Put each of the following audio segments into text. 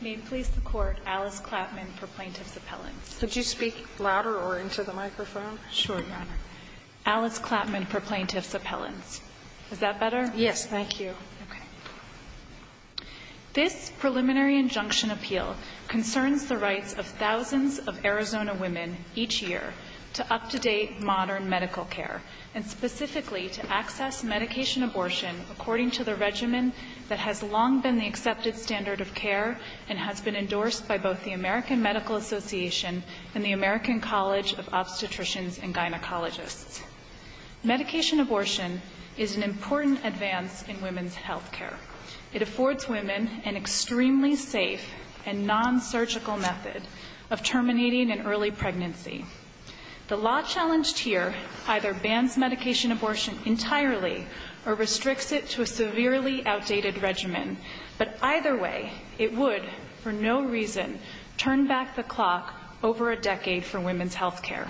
May it please the Court, Alice Klapman for Plaintiff's Appellants. Could you speak louder or into the microphone? Sure, Your Honor. Alice Klapman for Plaintiff's Appellants. Is that better? Yes, thank you. Okay. This preliminary injunction appeal concerns the rights of thousands of Arizona women each year to up-to-date modern medical care, and specifically to access medication abortion according to the regimen that has long been the accepted standard of care and has been endorsed by both the American Medical Association and the American College of Obstetricians and Gynecologists. Medication abortion is an important advance in women's health care. It affords women an extremely safe and non-surgical method of terminating an early pregnancy. The law challenged here either bans medication abortion entirely or restricts it to a severely outdated regimen, but either way, it would for no reason turn back the clock over a decade for women's health care.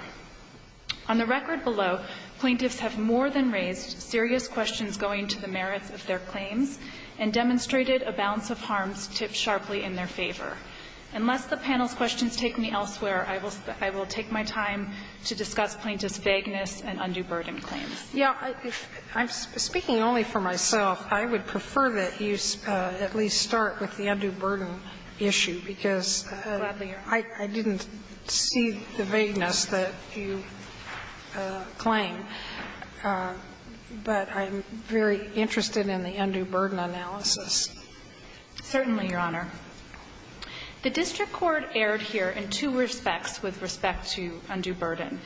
On the record below, plaintiffs have more than raised serious questions going to the merits of their claims and demonstrated a balance of harms tipped sharply in their favor. Unless the panel's questions take me elsewhere, I will take my time to discuss plaintiffs' vagueness and undue burden claims. Yeah, I'm speaking only for myself. I would prefer that you at least start with the undue burden issue, because I didn't see the vagueness that you claim, but I'm very interested in the undue burden analysis. Certainly, Your Honor. The district court erred here in two respects with respect to undue burden.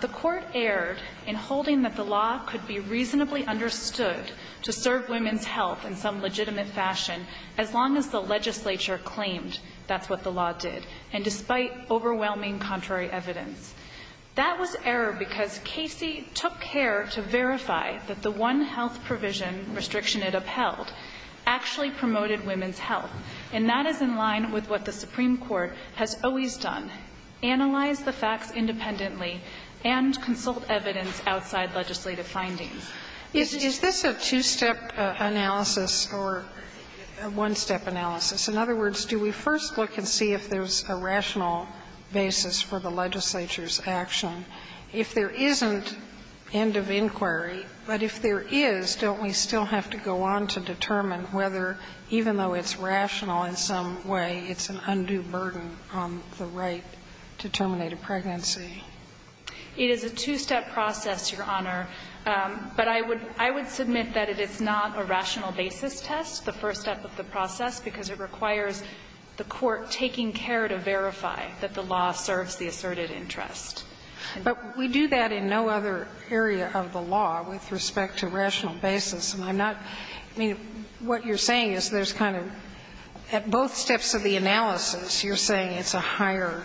The court erred in holding that the law could be reasonably understood to serve women's health in some legitimate fashion as long as the legislature claimed that's what the law did, and despite overwhelming contrary evidence. That was error because Casey took care to verify that the one health provision restriction it upheld actually promoted women's health, and that is in line with what the Supreme Court has always done, analyze the facts independently and consult evidence outside legislative findings. Is this a two-step analysis or a one-step analysis? In other words, do we first look and see if there's a rational basis for the legislature's If there isn't end of inquiry, but if there is, don't we still have to go on to determine whether, even though it's rational in some way, it's an undue burden on the right to terminate a pregnancy? It is a two-step process, Your Honor, but I would – I would submit that it is not a rational basis test, the first step of the process, because it requires the court taking care to verify that the law serves the asserted interest. But we do that in no other area of the law with respect to rational basis, and I'm not – I mean, what you're saying is there's kind of – at both steps of the analysis, you're saying it's a higher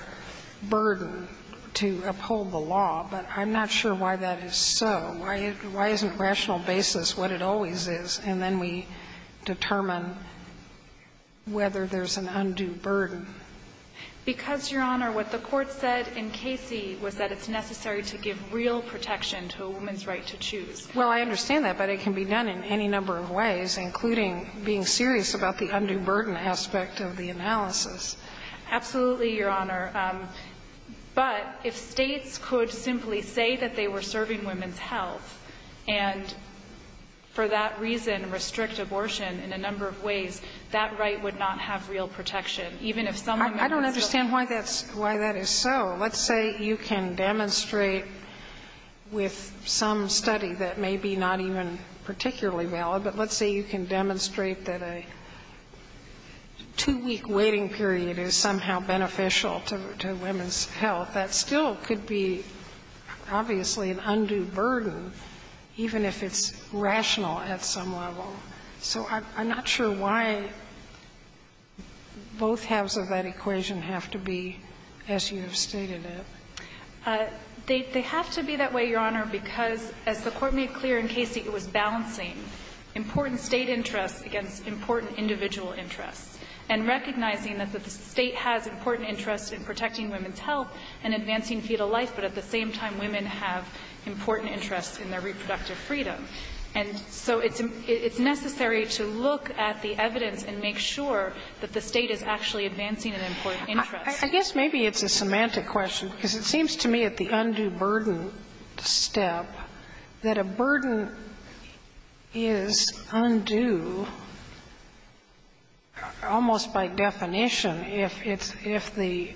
burden to uphold the law, but I'm not sure why that is so. Why isn't rational basis what it always is, and then we determine whether there's an undue burden? Because, Your Honor, what the court said in Casey was that it's necessary to give real protection to a woman's right to choose. Well, I understand that, but it can be done in any number of ways, including being serious about the undue burden aspect of the analysis. Absolutely, Your Honor. But if States could simply say that they were serving women's health and, for that reason, restrict abortion in a number of ways, that right would not have real protection, even if some women were still serving women's health. I don't understand why that's – why that is so. Let's say you can demonstrate with some study that may be not even particularly valid, but let's say you can demonstrate that a two-week waiting period is somehow beneficial to women's health. That still could be, obviously, an undue burden, even if it's rational at some level. So I'm not sure why both halves of that equation have to be as you have stated it. They have to be that way, Your Honor, because, as the court made clear in Casey, it was balancing important State interests against important individual interests, and recognizing that the State has important interests in protecting women's health and advancing fetal life, but at the same time, women have important interests in their reproductive freedom. And so it's necessary to look at the evidence and make sure that the State is actually advancing an important interest. I guess maybe it's a semantic question, because it seems to me at the undue burden step that a burden is undue almost by definition if it's – if the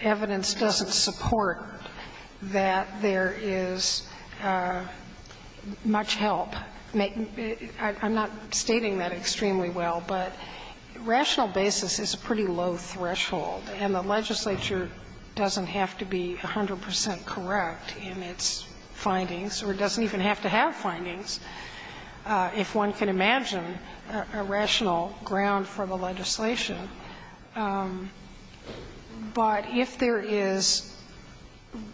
evidence doesn't support that there is much help. I'm not stating that extremely well, but rational basis is a pretty low threshold, and the legislature doesn't have to be 100 percent correct in its findings, or it doesn't even have to have findings if one can imagine a rational ground for the legislation. But if there is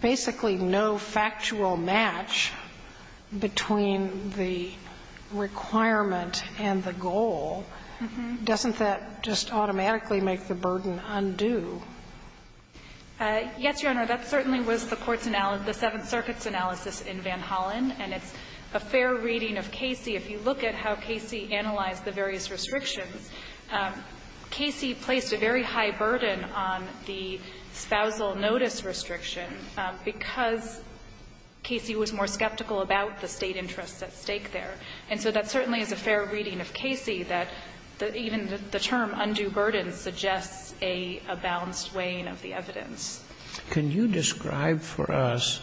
basically no factual match between the requirement and the goal, doesn't that just automatically make the burden undue? Yes, Your Honor. That certainly was the court's analysis, the Seventh Circuit's analysis in Van Hollen, and it's a fair reading of Casey. If you look at how Casey analyzed the various restrictions, Casey placed a very high burden on the spousal notice restriction because Casey was more skeptical about the State interests at stake there. And so that certainly is a fair reading of Casey, that even the term undue burden suggests a balanced weighing of the evidence. Can you describe for us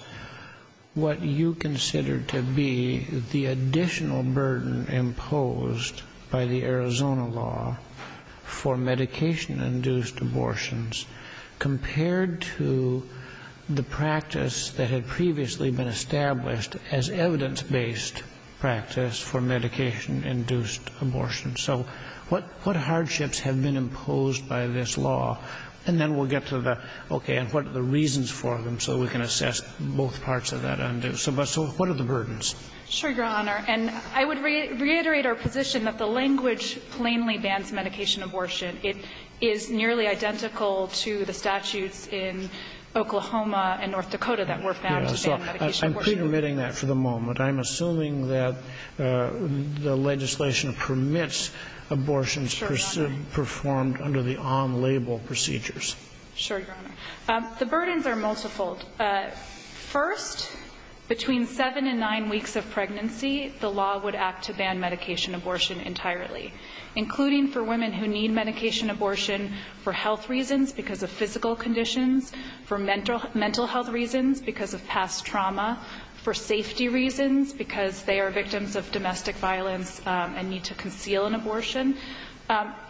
what you consider to be the additional burden imposed by the Arizona law for medication-induced abortions compared to the practice that had previously been established as evidence-based practice for medication-induced abortion? So what hardships have been imposed by this law? And then we'll get to the, okay, and what are the reasons for them so we can assess both parts of that undue. So what are the burdens? Sure, Your Honor. And I would reiterate our position that the language plainly bans medication abortion. It is nearly identical to the statutes in Oklahoma and North Dakota that were found to ban medication abortion. I'm pre-permitting that for the moment. I'm assuming that the legislation permits abortions performed under the OM label procedures. Sure, Your Honor. The burdens are multifold. First, between seven and nine weeks of pregnancy, the law would act to ban medication abortion entirely, including for women who need medication abortion for health reasons because of physical conditions, for mental health reasons because of past trauma, for safety reasons because they are victims of domestic violence and need to conceal an abortion.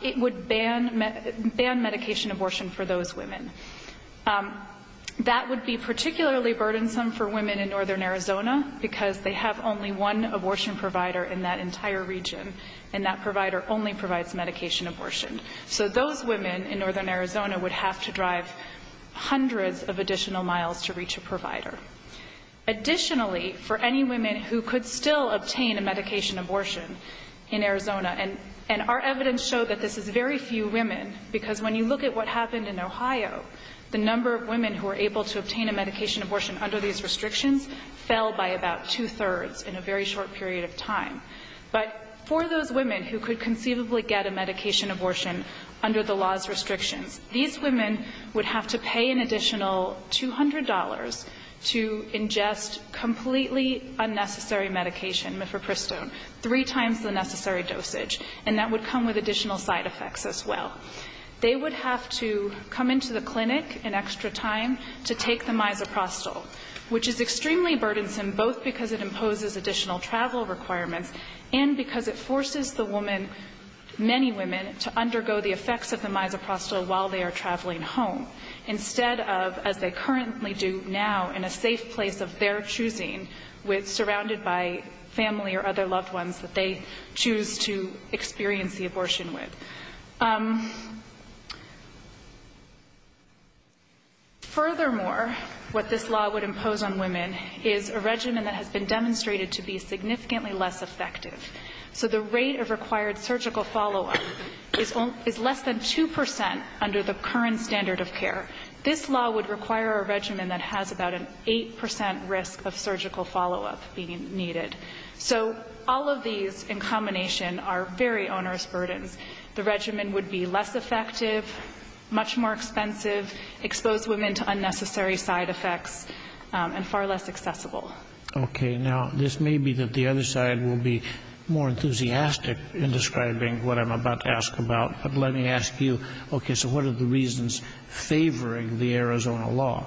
It would ban medication abortion for those women. That would be particularly burdensome for women in Northern Arizona because they have only one abortion provider in that entire region, and that provider only provides medication abortion. So those women in Northern Arizona would have to drive hundreds of additional miles to reach a provider. Additionally, for any women who could still obtain a medication abortion in Arizona and our evidence showed that this is very few women because when you look at what happened in Ohio, the number of women who were able to obtain a medication abortion under these restrictions fell by about two-thirds in a very short period of time. But for those women who could conceivably get a medication abortion under the law's restrictions, these women would have to pay an additional $200 to ingest completely unnecessary medication, Mifepristone, three times the necessary dosage. And that would come with additional side effects as well. They would have to come into the clinic in extra time to take the misoprostol, which is extremely burdensome both because it imposes additional travel requirements and because it forces the woman, many women, to undergo the effects of the misoprostol while they are traveling home instead of, as they currently do now, in a safe place of their choosing, with surrounded by family or other loved ones that they choose to experience the abortion with. Furthermore, what this law would impose on women is a regimen that has been demonstrated to be significantly less effective. So the rate of required surgical follow-up is less than 2% under the current standard of care. This law would require a regimen that has about an 8% risk of surgical follow-up being needed. So all of these, in combination, are very onerous burdens. The regimen would be less effective, much more expensive, expose women to unnecessary side effects, and far less accessible. OK, now, this may be that the other side will be more enthusiastic in describing what I'm about to ask about. But let me ask you, OK, so what are the reasons favoring the Arizona law?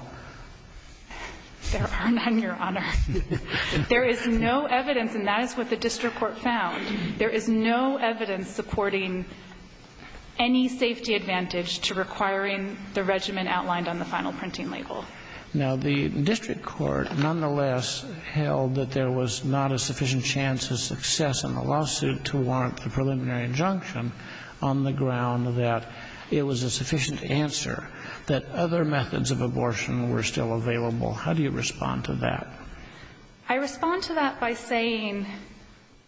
There are none, Your Honor. There is no evidence, and that is what the district court found, there is no evidence supporting any safety advantage to requiring the regimen outlined on the final printing label. Now, the district court, nonetheless, held that there was not a sufficient chance of success in the lawsuit to warrant the preliminary injunction on the ground that it was a sufficient answer that other methods of abortion were still available. How do you respond to that? I respond to that by saying,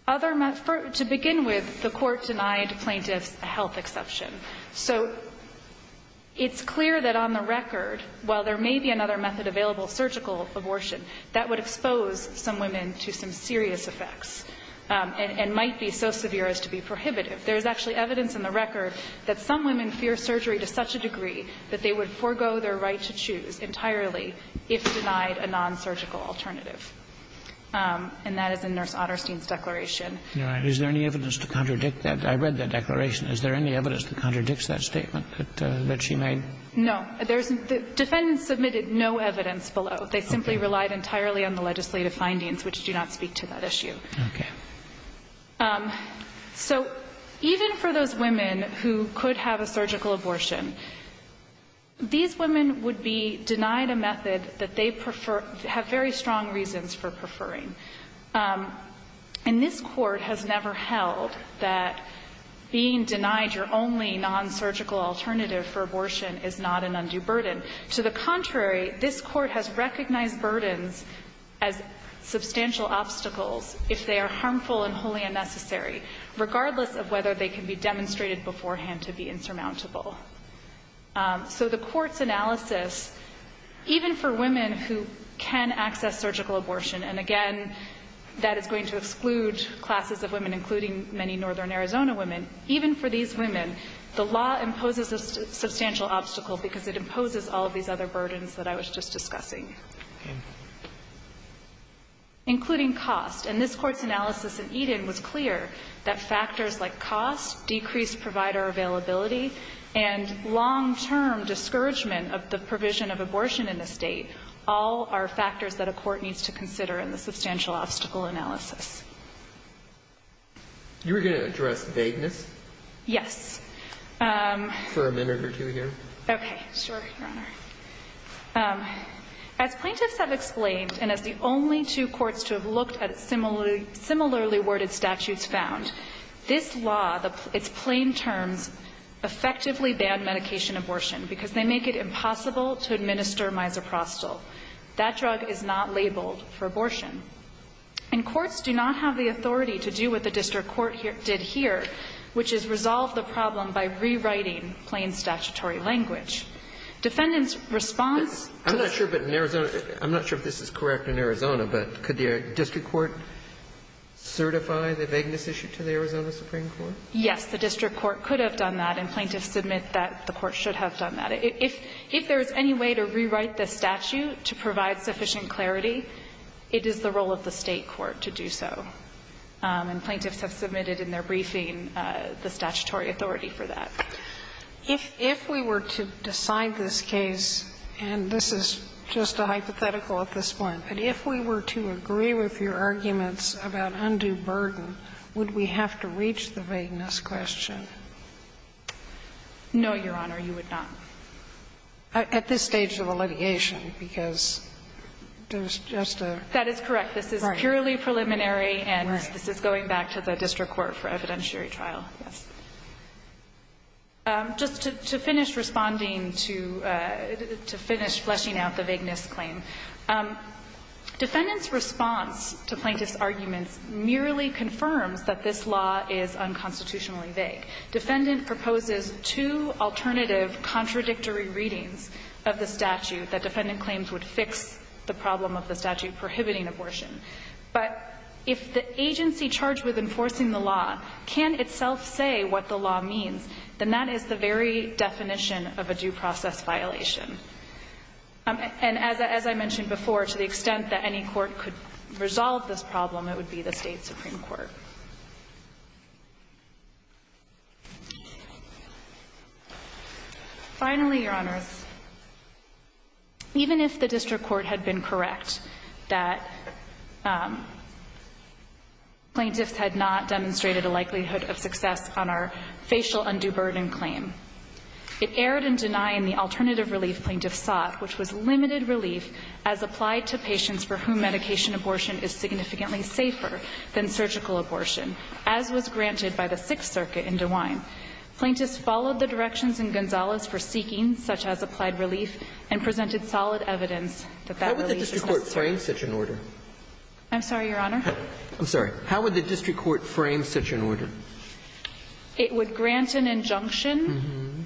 to begin with, the court denied plaintiffs a health exception. So it's clear that on the record, while there may be another method available, surgical abortion, that would expose some women to some serious effects and might be so severe as to be prohibitive. There is actually evidence in the record that some women fear surgery to such a degree that they would forego their right to choose entirely if denied a non-surgical alternative. And that is in Nurse Otterstein's declaration. Is there any evidence to contradict that? I read that declaration. Is there any evidence that contradicts that statement that she made? No. The defendants submitted no evidence below. They simply relied entirely on the legislative findings, which do not speak to that These women would be denied a method that they prefer, have very strong reasons for preferring. And this court has never held that being denied your only non-surgical alternative for abortion is not an undue burden. To the contrary, this court has recognized burdens as substantial obstacles if they are harmful and wholly unnecessary, regardless of whether they can be demonstrated beforehand to be insurmountable. So the court's analysis, even for women who can access surgical abortion, and again, that is going to exclude classes of women, including many Northern Arizona women, even for these women, the law imposes a substantial obstacle because it imposes all of these other burdens that I was just discussing, including cost. And this court's analysis in Eden was clear that factors like cost, decreased provider availability, and long-term discouragement of the provision of abortion in the state, all are factors that a court needs to consider in the substantial obstacle analysis. You were going to address vagueness? Yes. For a minute or two here? Okay, sure, Your Honor. As plaintiffs have explained, and as the only two courts to have looked at similarly worded statutes found, this law, it's plain terms, effectively banned medication abortion because they make it impossible to administer misoprostol. That drug is not labeled for abortion. And courts do not have the authority to do what the district court did here, which is resolve the problem by rewriting plain statutory language. Defendants' response to this law is that the court should be able to do that, but can the district court certify the vagueness issue to the Arizona Supreme Court? Yes. The district court could have done that, and plaintiffs admit that the court should have done that. If there's any way to rewrite this statute to provide sufficient clarity, it is the role of the State court to do so. And plaintiffs have submitted in their briefing the statutory authority for that. If we were to decide this case, and this is just a hypothetical at this point, but if we were to agree with your arguments about undue burden, would we have to reach the vagueness question? No, Your Honor, you would not. At this stage of the litigation, because there's just a – That is correct. This is purely preliminary, and this is going back to the district court for evidentiary trial. Yes. Just to finish responding to – to finish fleshing out the vagueness claim. Defendant's response to plaintiff's arguments merely confirms that this law is unconstitutionally vague. Defendant proposes two alternative contradictory readings of the statute that defendant claims would fix the problem of the statute prohibiting abortion. But if the agency charged with enforcing the law can't itself say what the law means, then that is the very definition of a due process violation. And as I mentioned before, to the extent that any court could resolve this problem, it would be the state supreme court. Finally, Your Honor, even if the district court had been correct that plaintiffs had not demonstrated a likelihood of success on our facial undue burden claim, it erred in denying the alternative relief plaintiffs sought, which was limited relief as applied to patients for whom medication abortion is significantly safer than surgical abortion, as was granted by the Sixth Circuit in DeWine. Plaintiffs followed the directions in Gonzales for seeking such-as-applied relief and presented solid evidence that that relief was necessary. How would the district court frame such an order? I'm sorry, Your Honor? I'm sorry. How would the district court frame such an order? It would grant an injunction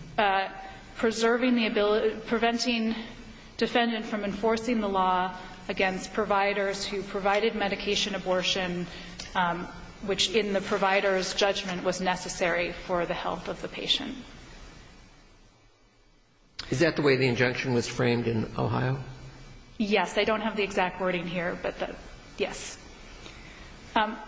preserving the ability to prevent defendant from enforcing the law against providers who provided medication abortion, which in the provider's judgment was necessary for the health of the patient. Is that the way the injunction was framed in Ohio? Yes. I don't have the exact wording here, but the yes.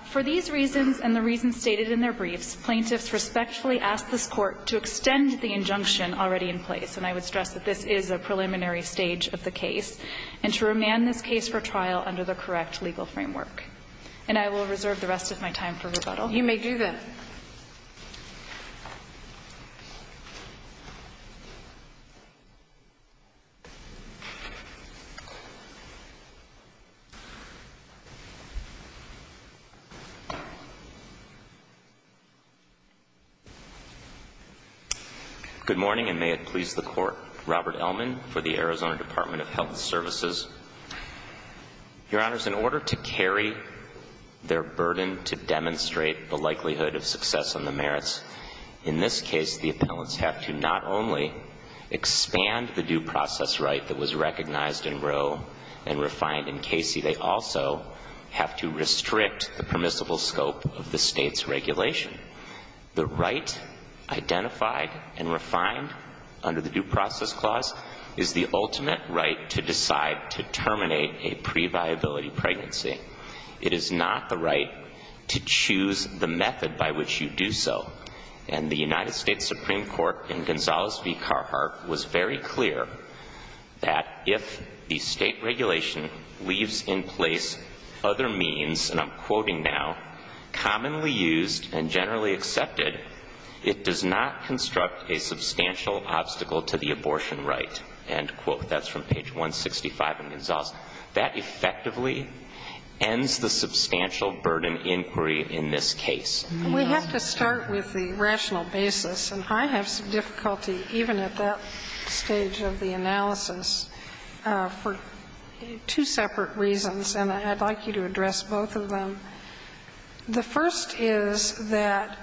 For these reasons and the reasons stated in their briefs, plaintiffs respectfully asked this Court to extend the injunction already in place, and I would stress that this is a preliminary stage of the case, and to remand this case for trial under the correct legal framework. And I will reserve the rest of my time for rebuttal. You may do that. Good morning, and may it please the Court, Robert Ellman for the Arizona Department of Health Services. Your Honors, in order to carry their burden to demonstrate the likelihood of success on the merits, in this case, the appellants have to not only expand the due process right that was recognized in Roe and refined in Casey, they also have to restrict the permissible scope of the State's regulation. The right identified and refined under the Due Process Clause is the ultimate right to decide to terminate a previability pregnancy. It is not the right to choose the method by which you do so. And the United States Supreme Court in Gonzales v. Carhart was very clear that if the State regulation leaves in place other means, and I'm quoting now, commonly used and generally accepted, it does not construct a substantial obstacle to the previability of pregnancy. And so the State's ruling in that case, and I quote, I'm quoting from page 165 in Gonzales, that effectively ends the substantial burden inquiry in this case. We have to start with the rational basis. And I have some difficulty, even at that stage of the analysis, for two separate reasons, and I'd like you to address both of them. The first is that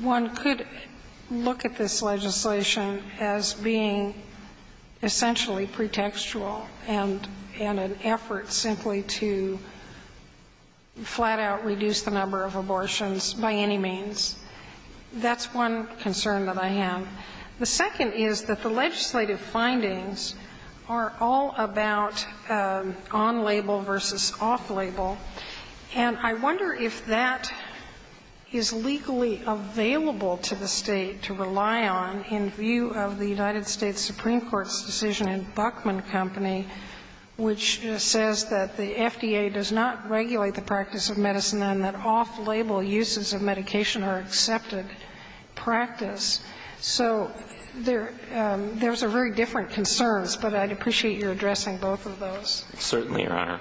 one could look at this legislation as being essentially pretextual and an effort simply to flat-out reduce the number of abortions by any means. That's one concern that I have. The second is that the legislative findings are all about on-label versus off-label, and I wonder if that is legally available to the State to rely on in view of the United States Supreme Court's decision in Buckman Company, which says that the FDA does not regulate the practice of medicine and that off-label uses of medication are accepted practice. So there's a very different concern, but I'd appreciate your addressing both of those. Certainly, Your Honor.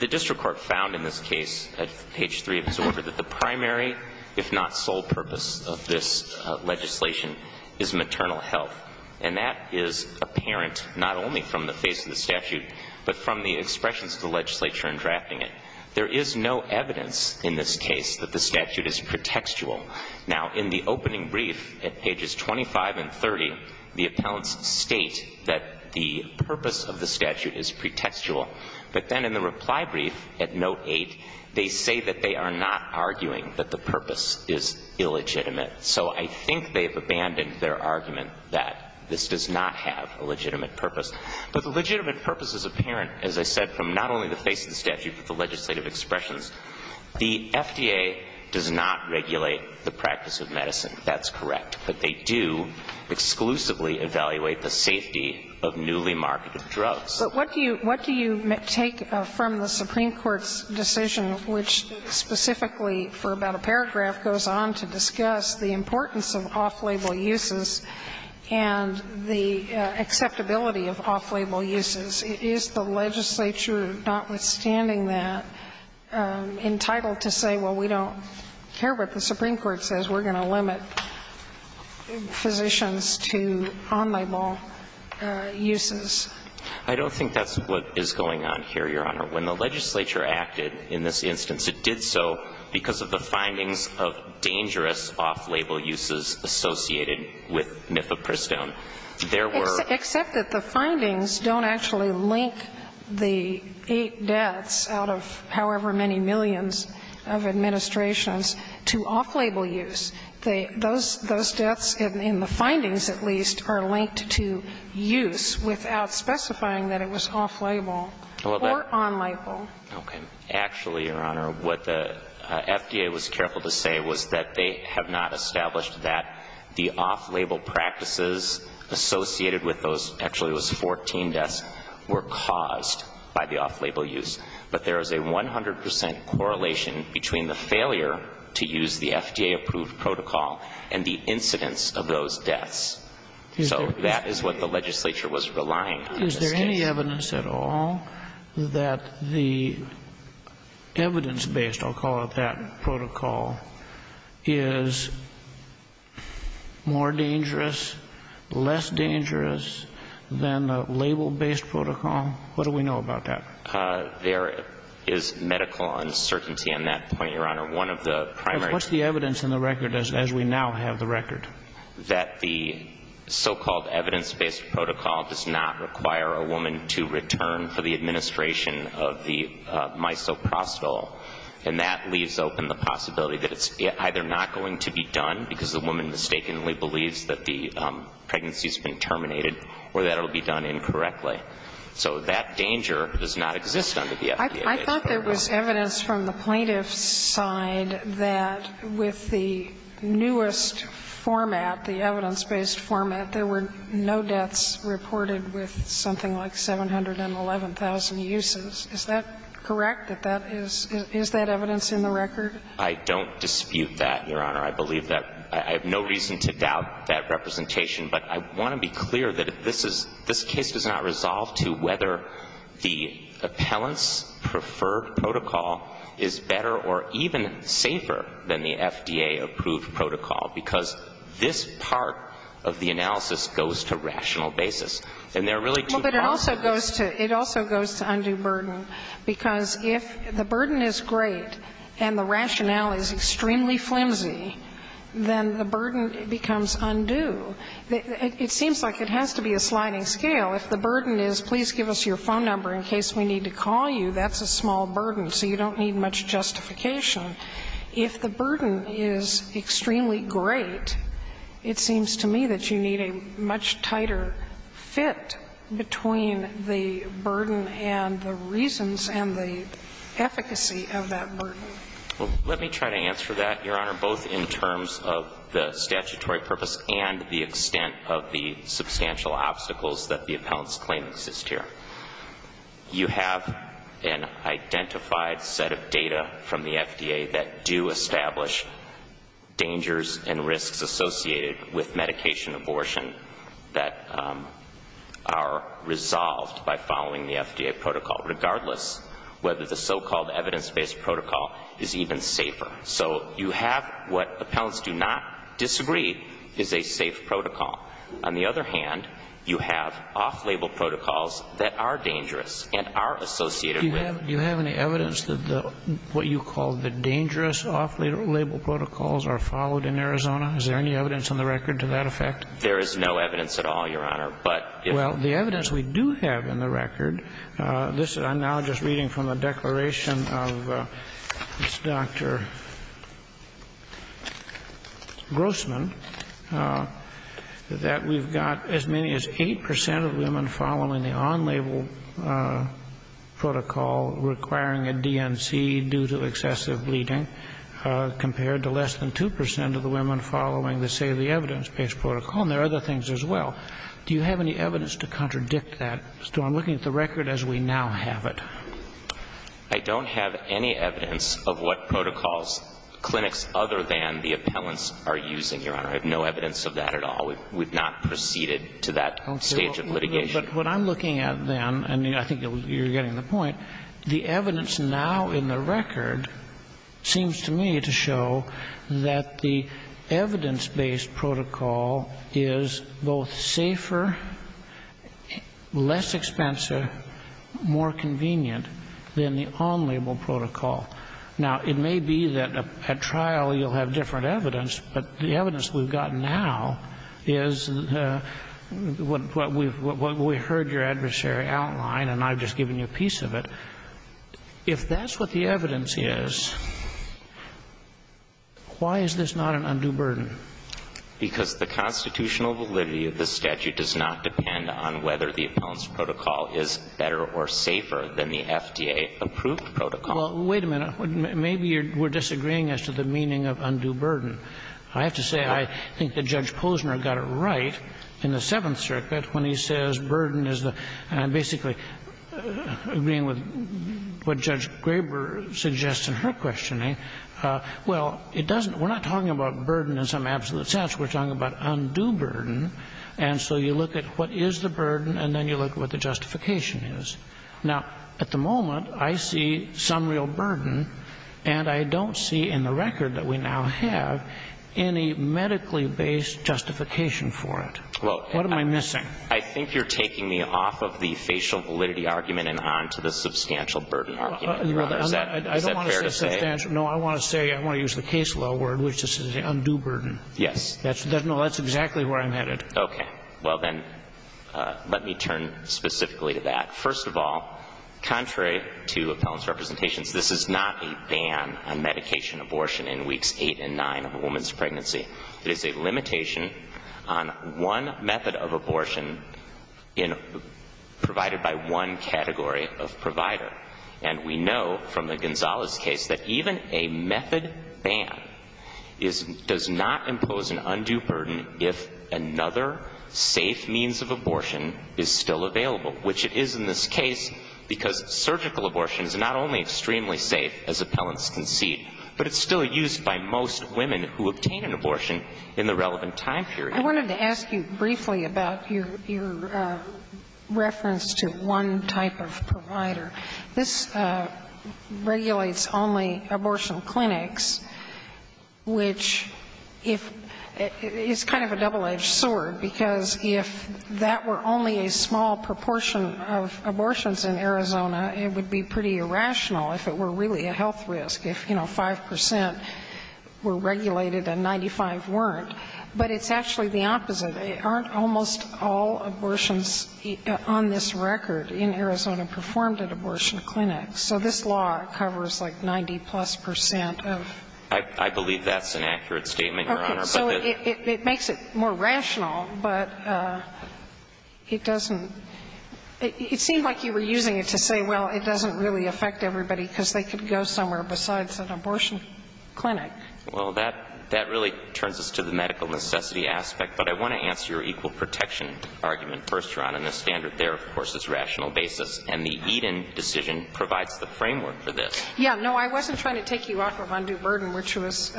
The district court found in this case, at page 3 of its order, that the primary if not sole purpose of this legislation is maternal health. And that is apparent not only from the face of the statute, but from the expressions of the legislature in drafting it. There is no evidence in this case that the statute is pretextual. Now, in the opening brief at pages 25 and 30, the appellants state that the purpose of the statute is pretextual. But then in the reply brief at note 8, they say that they are not arguing that the purpose is illegitimate. So I think they have abandoned their argument that this does not have a legitimate purpose. But the legitimate purpose is apparent, as I said, from not only the face of the statute, but the legislative expressions. The FDA does not regulate the practice of medicine. That's correct. But they do exclusively evaluate the safety of newly marketed drugs. But what do you take from the Supreme Court's decision, which specifically for about a paragraph goes on to discuss the importance of off-label uses and the acceptability of off-label uses? Is the legislature, notwithstanding that, entitled to say, well, we don't care what the Supreme Court says, we're going to limit physicians to on-label uses? I don't think that's what is going on here, Your Honor. When the legislature acted in this instance, it did so because of the findings of dangerous off-label uses associated with Mifepristone. There were Except that the findings don't actually link the eight deaths out of however many millions of administrations to off-label use. Those deaths, in the findings at least, are linked to use without specifying that it was off-label or on-label. Okay. Actually, Your Honor, what the FDA was careful to say was that they have not established that the off-label practices associated with those, actually it was 14 deaths, were caused by the off-label use. But there is a 100 percent correlation between the failure to use the FDA-approved protocol and the incidence of those deaths. So that is what the legislature was relying on. Is there any evidence at all that the evidence-based, I'll call it that, protocol is more dangerous, less dangerous than the label-based protocol? What do we know about that? There is medical uncertainty on that point, Your Honor. One of the primary What's the evidence in the record as we now have the record? That the so-called evidence-based protocol does not require a woman to return for the going to be done because the woman mistakenly believes that the pregnancy has been terminated or that it will be done incorrectly. So that danger does not exist under the FDA-approved protocol. I thought there was evidence from the plaintiff's side that with the newest format, the evidence-based format, there were no deaths reported with something like 711,000 uses. Is that correct? Is that evidence in the record? I don't dispute that, Your Honor. I believe that. I have no reason to doubt that representation. But I want to be clear that this case does not resolve to whether the appellant's preferred protocol is better or even safer than the FDA-approved protocol, because this part of the analysis goes to rational basis. And there are really two parts. But it also goes to undue burden. Because if the burden is great and the rationale is extremely flimsy, then the burden becomes undue. It seems like it has to be a sliding scale. If the burden is please give us your phone number in case we need to call you, that's a small burden, so you don't need much justification. If the burden is extremely great, it seems to me that you need a much tighter fit between the burden and the reasons and the efficacy of that burden. Well, let me try to answer that, Your Honor, both in terms of the statutory purpose and the extent of the substantial obstacles that the appellant's claim exists here. You have an identified set of data from the FDA that do establish dangers and risks associated with medication abortion that are resolved by following the FDA protocol, regardless whether the so-called evidence-based protocol is even safer. So you have what appellants do not disagree is a safe protocol. On the other hand, you have off-label protocols that are dangerous and are associated with it. Do you have any evidence that what you call the dangerous off-label protocols are Is there any evidence on the record to that effect? There is no evidence at all, Your Honor. Well, the evidence we do have in the record, I'm now just reading from a declaration of this Dr. Grossman, that we've got as many as 8 percent of women following the on-label protocol requiring a DNC due to excessive bleeding, compared to less than 2 percent of the women following the safety evidence-based protocol. And there are other things as well. Do you have any evidence to contradict that? So I'm looking at the record as we now have it. I don't have any evidence of what protocols clinics other than the appellants are using, Your Honor. I have no evidence of that at all. We've not proceeded to that stage of litigation. But what I'm looking at then, and I think you're getting the point, the evidence now in the record seems to me to show that the evidence-based protocol is both safer, less expensive, more convenient than the on-label protocol. Now, it may be that at trial you'll have different evidence, but the evidence we've got now is what we heard your adversary outline, and I've just given you a piece of it. If that's what the evidence is, why is this not an undue burden? Because the constitutional validity of the statute does not depend on whether the appellant's protocol is better or safer than the FDA-approved protocol. Well, wait a minute. Maybe we're disagreeing as to the meaning of undue burden. I have to say, I think that Judge Posner got it right in the Seventh Circuit when he says burden is the – and I'm basically agreeing with what Judge Graber suggests in her questioning. Well, it doesn't – we're not talking about burden in some absolute sense. We're talking about undue burden. And so you look at what is the burden, and then you look at what the justification is. Now, at the moment, I see some real burden, and I don't see in the record that we now have any medically-based justification for it. What am I missing? I think you're taking me off of the facial validity argument and onto the substantial burden argument, Your Honor. Is that fair to say? I don't want to say substantial. No, I want to say – I want to use the case law word, which is undue burden. Yes. No, that's exactly where I'm headed. Okay. Well, then, let me turn specifically to that. First of all, contrary to appellant's representations, this is not a ban on medication abortion in Weeks 8 and 9 of a woman's pregnancy. It is a limitation on one method of abortion provided by one category of provider. And we know from the Gonzalez case that even a method ban does not impose an undue burden if another safe means of abortion is still available, which it is in this case because surgical abortion is not only extremely safe, as appellants concede, but it's still used by most women who obtain an abortion in the relevant time period. I wanted to ask you briefly about your reference to one type of provider. This regulates only abortion clinics, which is kind of a double-edged sword, because if that were only a small proportion of abortions in Arizona, it would be pretty rational if it were really a health risk, if, you know, 5 percent were regulated and 95 weren't. But it's actually the opposite. Aren't almost all abortions on this record in Arizona performed at abortion clinics? So this law covers, like, 90-plus percent of? I believe that's an accurate statement, Your Honor. Okay. So it makes it more rational, but it doesn't – it seemed like you were using it to say, well, it doesn't really affect everybody because they could go somewhere besides an abortion clinic. Well, that really turns us to the medical necessity aspect, but I want to answer your equal protection argument first, Your Honor, and the standard there, of course, is rational basis. And the Eden decision provides the framework for this. Yeah. No, I wasn't trying to take you off of undue burden, which was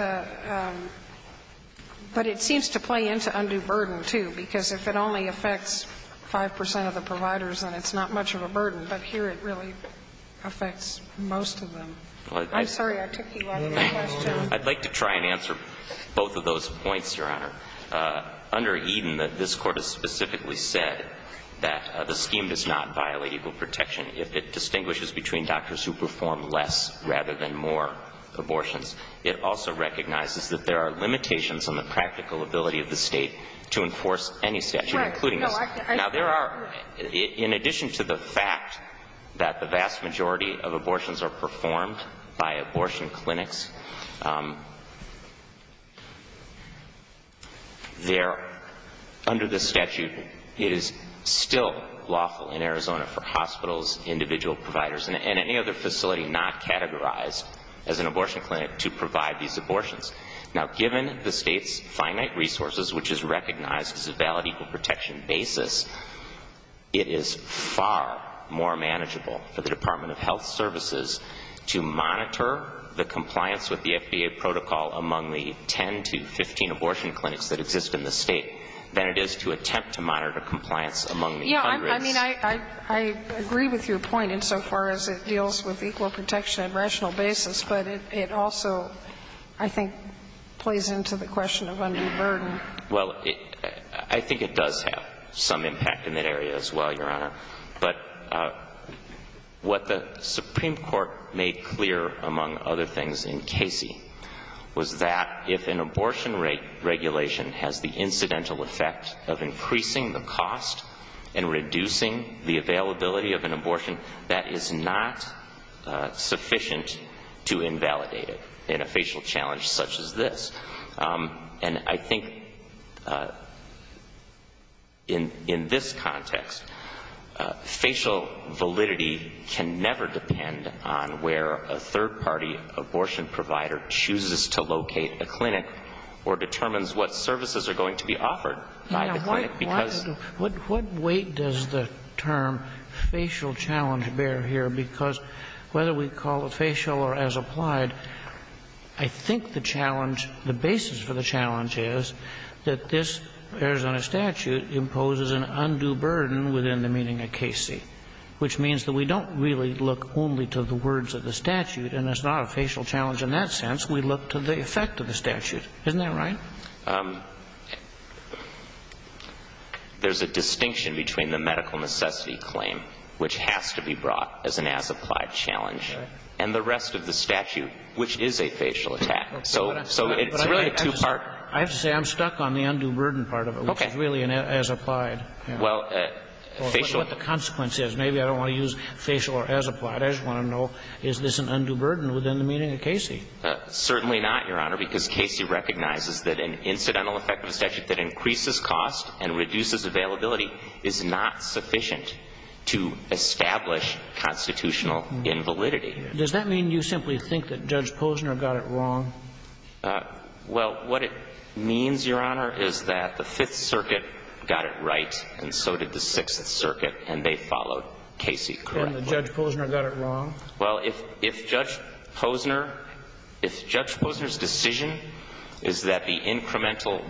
– but it seems to play into undue burden, too, because if it only affects 5 percent of the providers and it's not much of a burden, but here it really affects most of them. I'm sorry. I took you off of the question. I'd like to try and answer both of those points, Your Honor. Under Eden, this Court has specifically said that the scheme does not violate equal protection if it distinguishes between doctors who perform less rather than more abortions. It also recognizes that there are limitations on the practical ability of the State to enforce any statute, including this. Now, there are – in addition to the fact that the vast majority of abortions are performed by abortion clinics, there – under this statute, it is still lawful in Arizona for hospitals, individual providers, and any other facility not categorized as an abortion clinic to provide these abortions. Now, given the State's finite resources, which is recognized as a valid equal protection basis, it is far more manageable for the Department of Health Services to monitor the compliance with the FDA protocol among the 10 to 15 abortion clinics that exist in the State than it is to attempt to monitor compliance among the Congress. Yeah, I mean, I agree with your point insofar as it deals with equal protection on a rational basis, but it also, I think, plays into the question of undue burden. Well, I think it does have some impact in that area as well, Your Honor. But what the Supreme Court made clear, among other things, in Casey, was that if an abortion regulation has the incidental effect of increasing the cost and reducing the availability of an abortion, that is not sufficient to invalidate it in a facial challenge such as this. And I think in this context, facial validity can never depend on where a third-party abortion provider chooses to locate a clinic or determines what services are going to be offered by the clinic, because — What weight does the term facial challenge bear here? Because whether we call it facial or as applied, I think the challenge, the basis for the challenge is that this Arizona statute imposes an undue burden within the meaning of Casey, which means that we don't really look only to the words of the statute, and it's not a facial challenge in that sense. We look to the effect of the statute. Isn't that right? There's a distinction between the medical necessity claim, which has to be brought up as an as-applied challenge, and the rest of the statute, which is a facial attack. So it's really a two-part — I have to say I'm stuck on the undue burden part of it, which is really an as-applied. Well, facial — What the consequence is. Maybe I don't want to use facial or as-applied. I just want to know, is this an undue burden within the meaning of Casey? Well, what it means, Your Honor, is that the Fifth Circuit got it right, and so did the Sixth Circuit, and they followed Casey correctly. And that Judge Posner got it wrong? Well, if Judge Posner — if Judge Posner's decision is that the incremental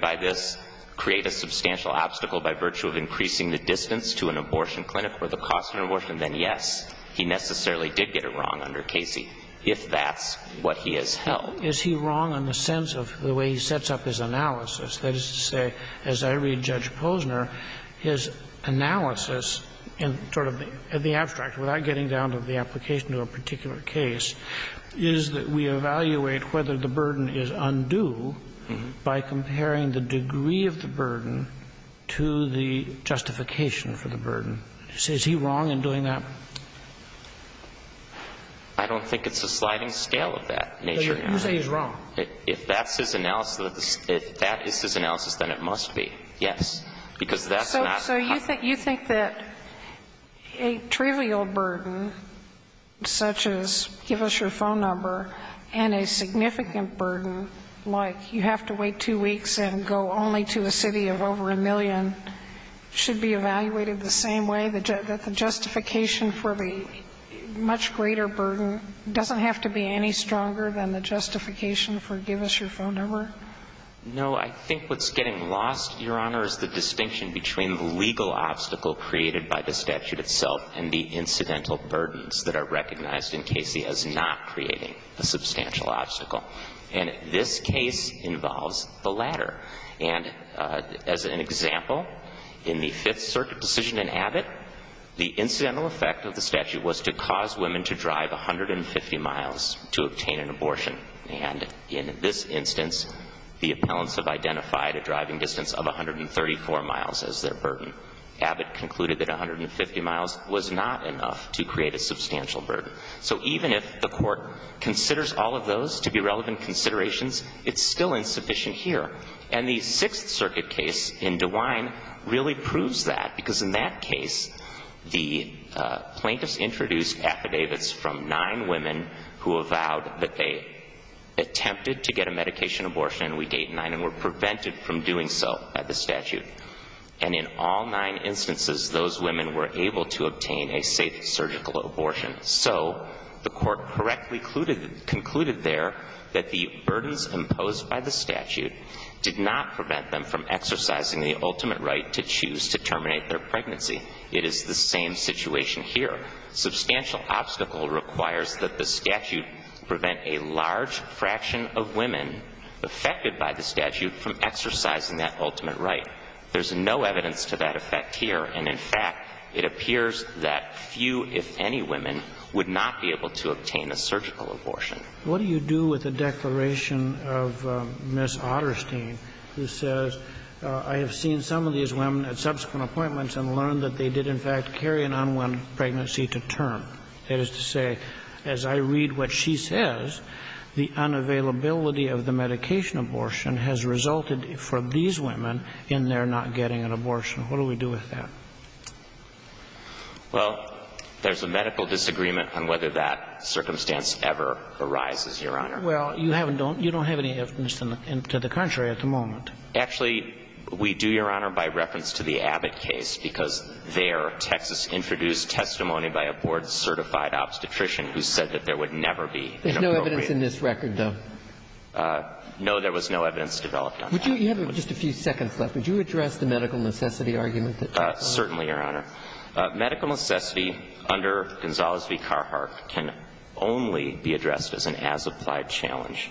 by this create a substantial obstacle by virtue of increasing the distance to an abortion clinic or the cost of an abortion, then, yes, he necessarily did get it wrong under Casey, if that's what he has held. Is he wrong in the sense of the way he sets up his analysis? That is to say, as I read Judge Posner, his analysis in sort of the abstract, without getting down to the application to a particular case, is that we evaluate whether the burden is undue by comparing the degree of the burden to the justification for the burden. Is he wrong in doing that? I don't think it's a sliding scale of that nature, Your Honor. You say he's wrong. If that's his analysis, if that is his analysis, then it must be, yes, because that's not how — So you think — you think that a trivial burden, such as give us your phone number, and a significant burden, like you have to wait two weeks and go only to a city of over a million, should be evaluated the same way, that the justification for the much greater burden doesn't have to be any stronger than the justification for give us your phone number? No. I think what's getting lost, Your Honor, is the distinction between the legal obstacle created by the statute itself and the incidental burdens that are recognized in Casey as not creating a substantial obstacle. And this case involves the latter. And as an example, in the Fifth Circuit decision in Abbott, the incidental effect of the statute was to cause women to drive 150 miles to obtain an abortion. And in this instance, the appellants have identified a driving distance of 134 miles as their burden. Abbott concluded that 150 miles was not enough to create a substantial burden. So even if the Court considers all of those to be relevant considerations, it's still insufficient here. And the Sixth Circuit case in DeWine really proves that, because in that case, the attempted to get a medication abortion in week eight and nine and were prevented from doing so by the statute. And in all nine instances, those women were able to obtain a safe surgical abortion. So the Court correctly concluded there that the burdens imposed by the statute did not prevent them from exercising the ultimate right to choose to terminate their pregnancy. It is the same situation here. Substantial obstacle requires that the statute prevent a large fraction of women affected by the statute from exercising that ultimate right. There's no evidence to that effect here. And, in fact, it appears that few, if any, women would not be able to obtain a surgical abortion. What do you do with the declaration of Ms. Otterstein who says, I have seen some pregnancy to term? That is to say, as I read what she says, the unavailability of the medication abortion has resulted, for these women, in their not getting an abortion. What do we do with that? Well, there's a medical disagreement on whether that circumstance ever arises, Your Honor. Well, you haven't done you don't have any evidence to the contrary at the moment. Actually, we do, Your Honor, by reference to the Abbott case, because there Texas introduced testimony by a board-certified obstetrician who said that there would never be an abortion. There's no evidence in this record, though? No, there was no evidence developed on that. Would you, you have just a few seconds left. Would you address the medical necessity argument? Certainly, Your Honor. Medical necessity under Gonzales v. Carhartt can only be addressed as an as-applied challenge.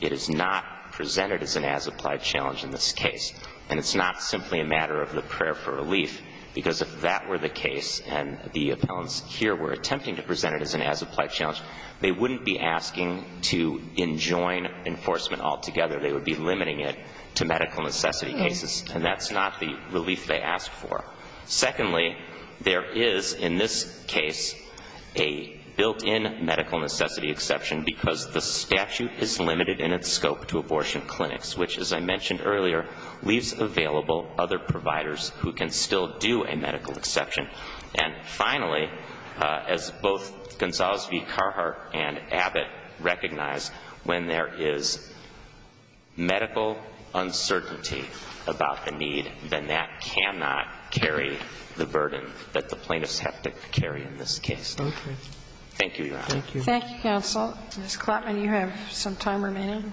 It is not presented as an as-applied challenge in this case. And it's not simply a matter of the prayer for relief, because if that were the case and the appellants here were attempting to present it as an as-applied challenge, they wouldn't be asking to enjoin enforcement altogether. They would be limiting it to medical necessity cases. And that's not the relief they asked for. Secondly, there is, in this case, a built-in medical necessity exception because the statute is limited in its scope to abortion clinics, which, as I mentioned earlier, leaves available other providers who can still do a medical exception. And finally, as both Gonzales v. Carhartt and Abbott recognize, when there is medical uncertainty about the need, then that cannot carry the burden that the plaintiffs have to carry in this case. Okay. Thank you, Your Honor. Thank you. Thank you, counsel. Ms. Klattman, you have some time remaining.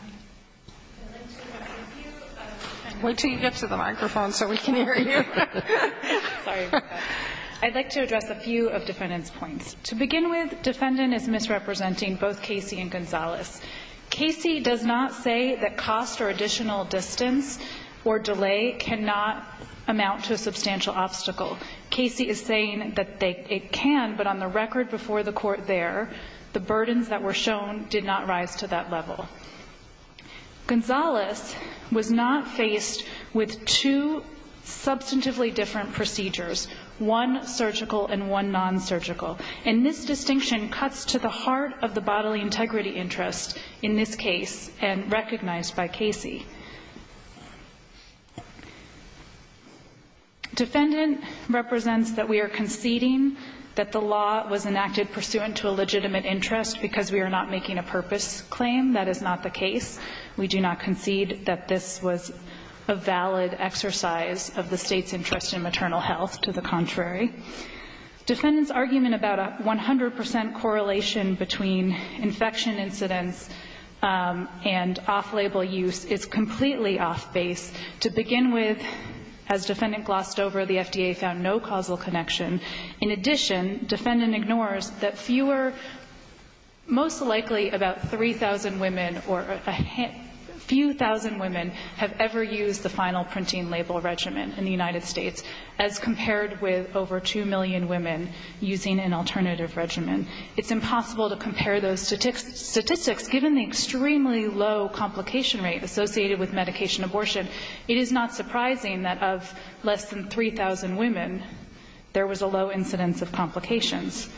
I'd like to address a few of defendant's points. To begin with, defendant is misrepresenting both Casey and Gonzales. Casey does not say that cost or additional distance or delay cannot amount to a substantial obstacle. Casey is saying that it can, but on the record before the court there, the burdens that were shown did not rise to that level. Gonzales was not faced with two substantively different procedures, one surgical and one non-surgical. And this distinction cuts to the heart of the bodily integrity interest in this case and recognized by Casey. Defendant represents that we are conceding that the law was enacted pursuant to a legitimate interest because we are not making a purpose claim. That is not the case. We do not concede that this was a valid exercise of the state's interest in maternal health. To the contrary. Defendant's argument about a 100% correlation between infection incidence and off-label use is completely off-base. To begin with, as defendant glossed over, the FDA found no causal connection. In addition, defendant ignores that fewer, most likely about 3,000 women or a few thousand women have ever used the final printing label regimen in the United States as compared with over 2 million women using an alternative regimen. It's impossible to compare those statistics given the extremely low complication rate associated with medication abortion. It is not surprising that of less than 3,000 women, there was a low incidence of complications.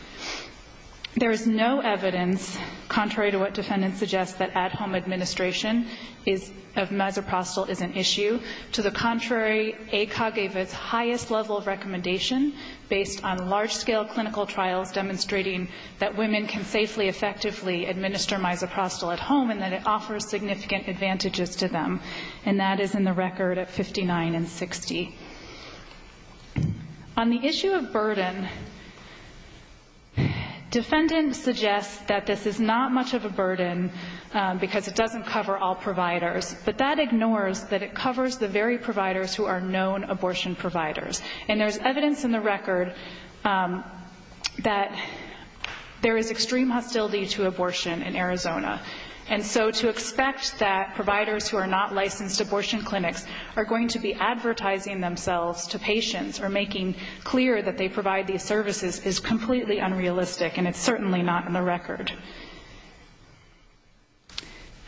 There is no evidence, contrary to what defendant suggests, that at-home administration of mesoprostol is an issue. To the contrary, ACOG gave its highest level of recommendation based on large-scale clinical trials demonstrating that women can safely, effectively administer mesoprostol at home and that it offers significant advantages to them. And that is in the record at 59 and 60. On the issue of burden, defendant suggests that this is not much of a burden because it doesn't cover all providers. But that ignores that it covers the very providers who are known abortion providers. And there's evidence in the record that there is extreme hostility to abortion in Arizona. And so to expect that providers who are not licensed abortion clinics are going to be advertising themselves to patients or making clear that they provide these services is completely unrealistic, and it's certainly not in the record.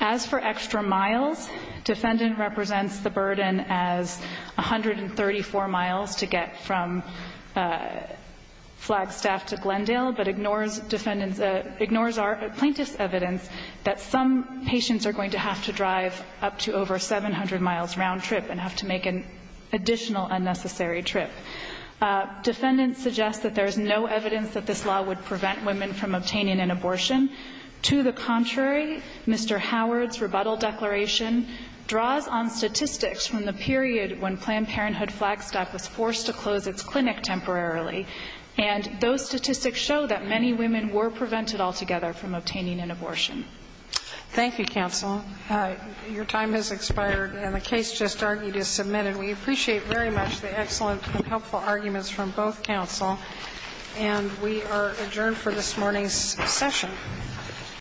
As for extra miles, defendant represents the burden as 134 miles to get from Flagstaff to Glendale, but ignores defendant's – ignores our plaintiff's evidence that some patients are going to have to drive up to over 700 miles round trip and have to make an additional unnecessary trip. Defendant suggests that there is no evidence that this law would prevent women from obtaining an abortion. To the contrary, Mr. Howard's rebuttal declaration draws on statistics from the period when Planned Parenthood Flagstaff was forced to close its clinic temporarily. And those statistics show that many women were prevented altogether from obtaining an abortion. Thank you, counsel. Your time has expired, and the case just argued is submitted. We appreciate very much the excellent and helpful arguments from both counsel. And we are adjourned for this morning's session.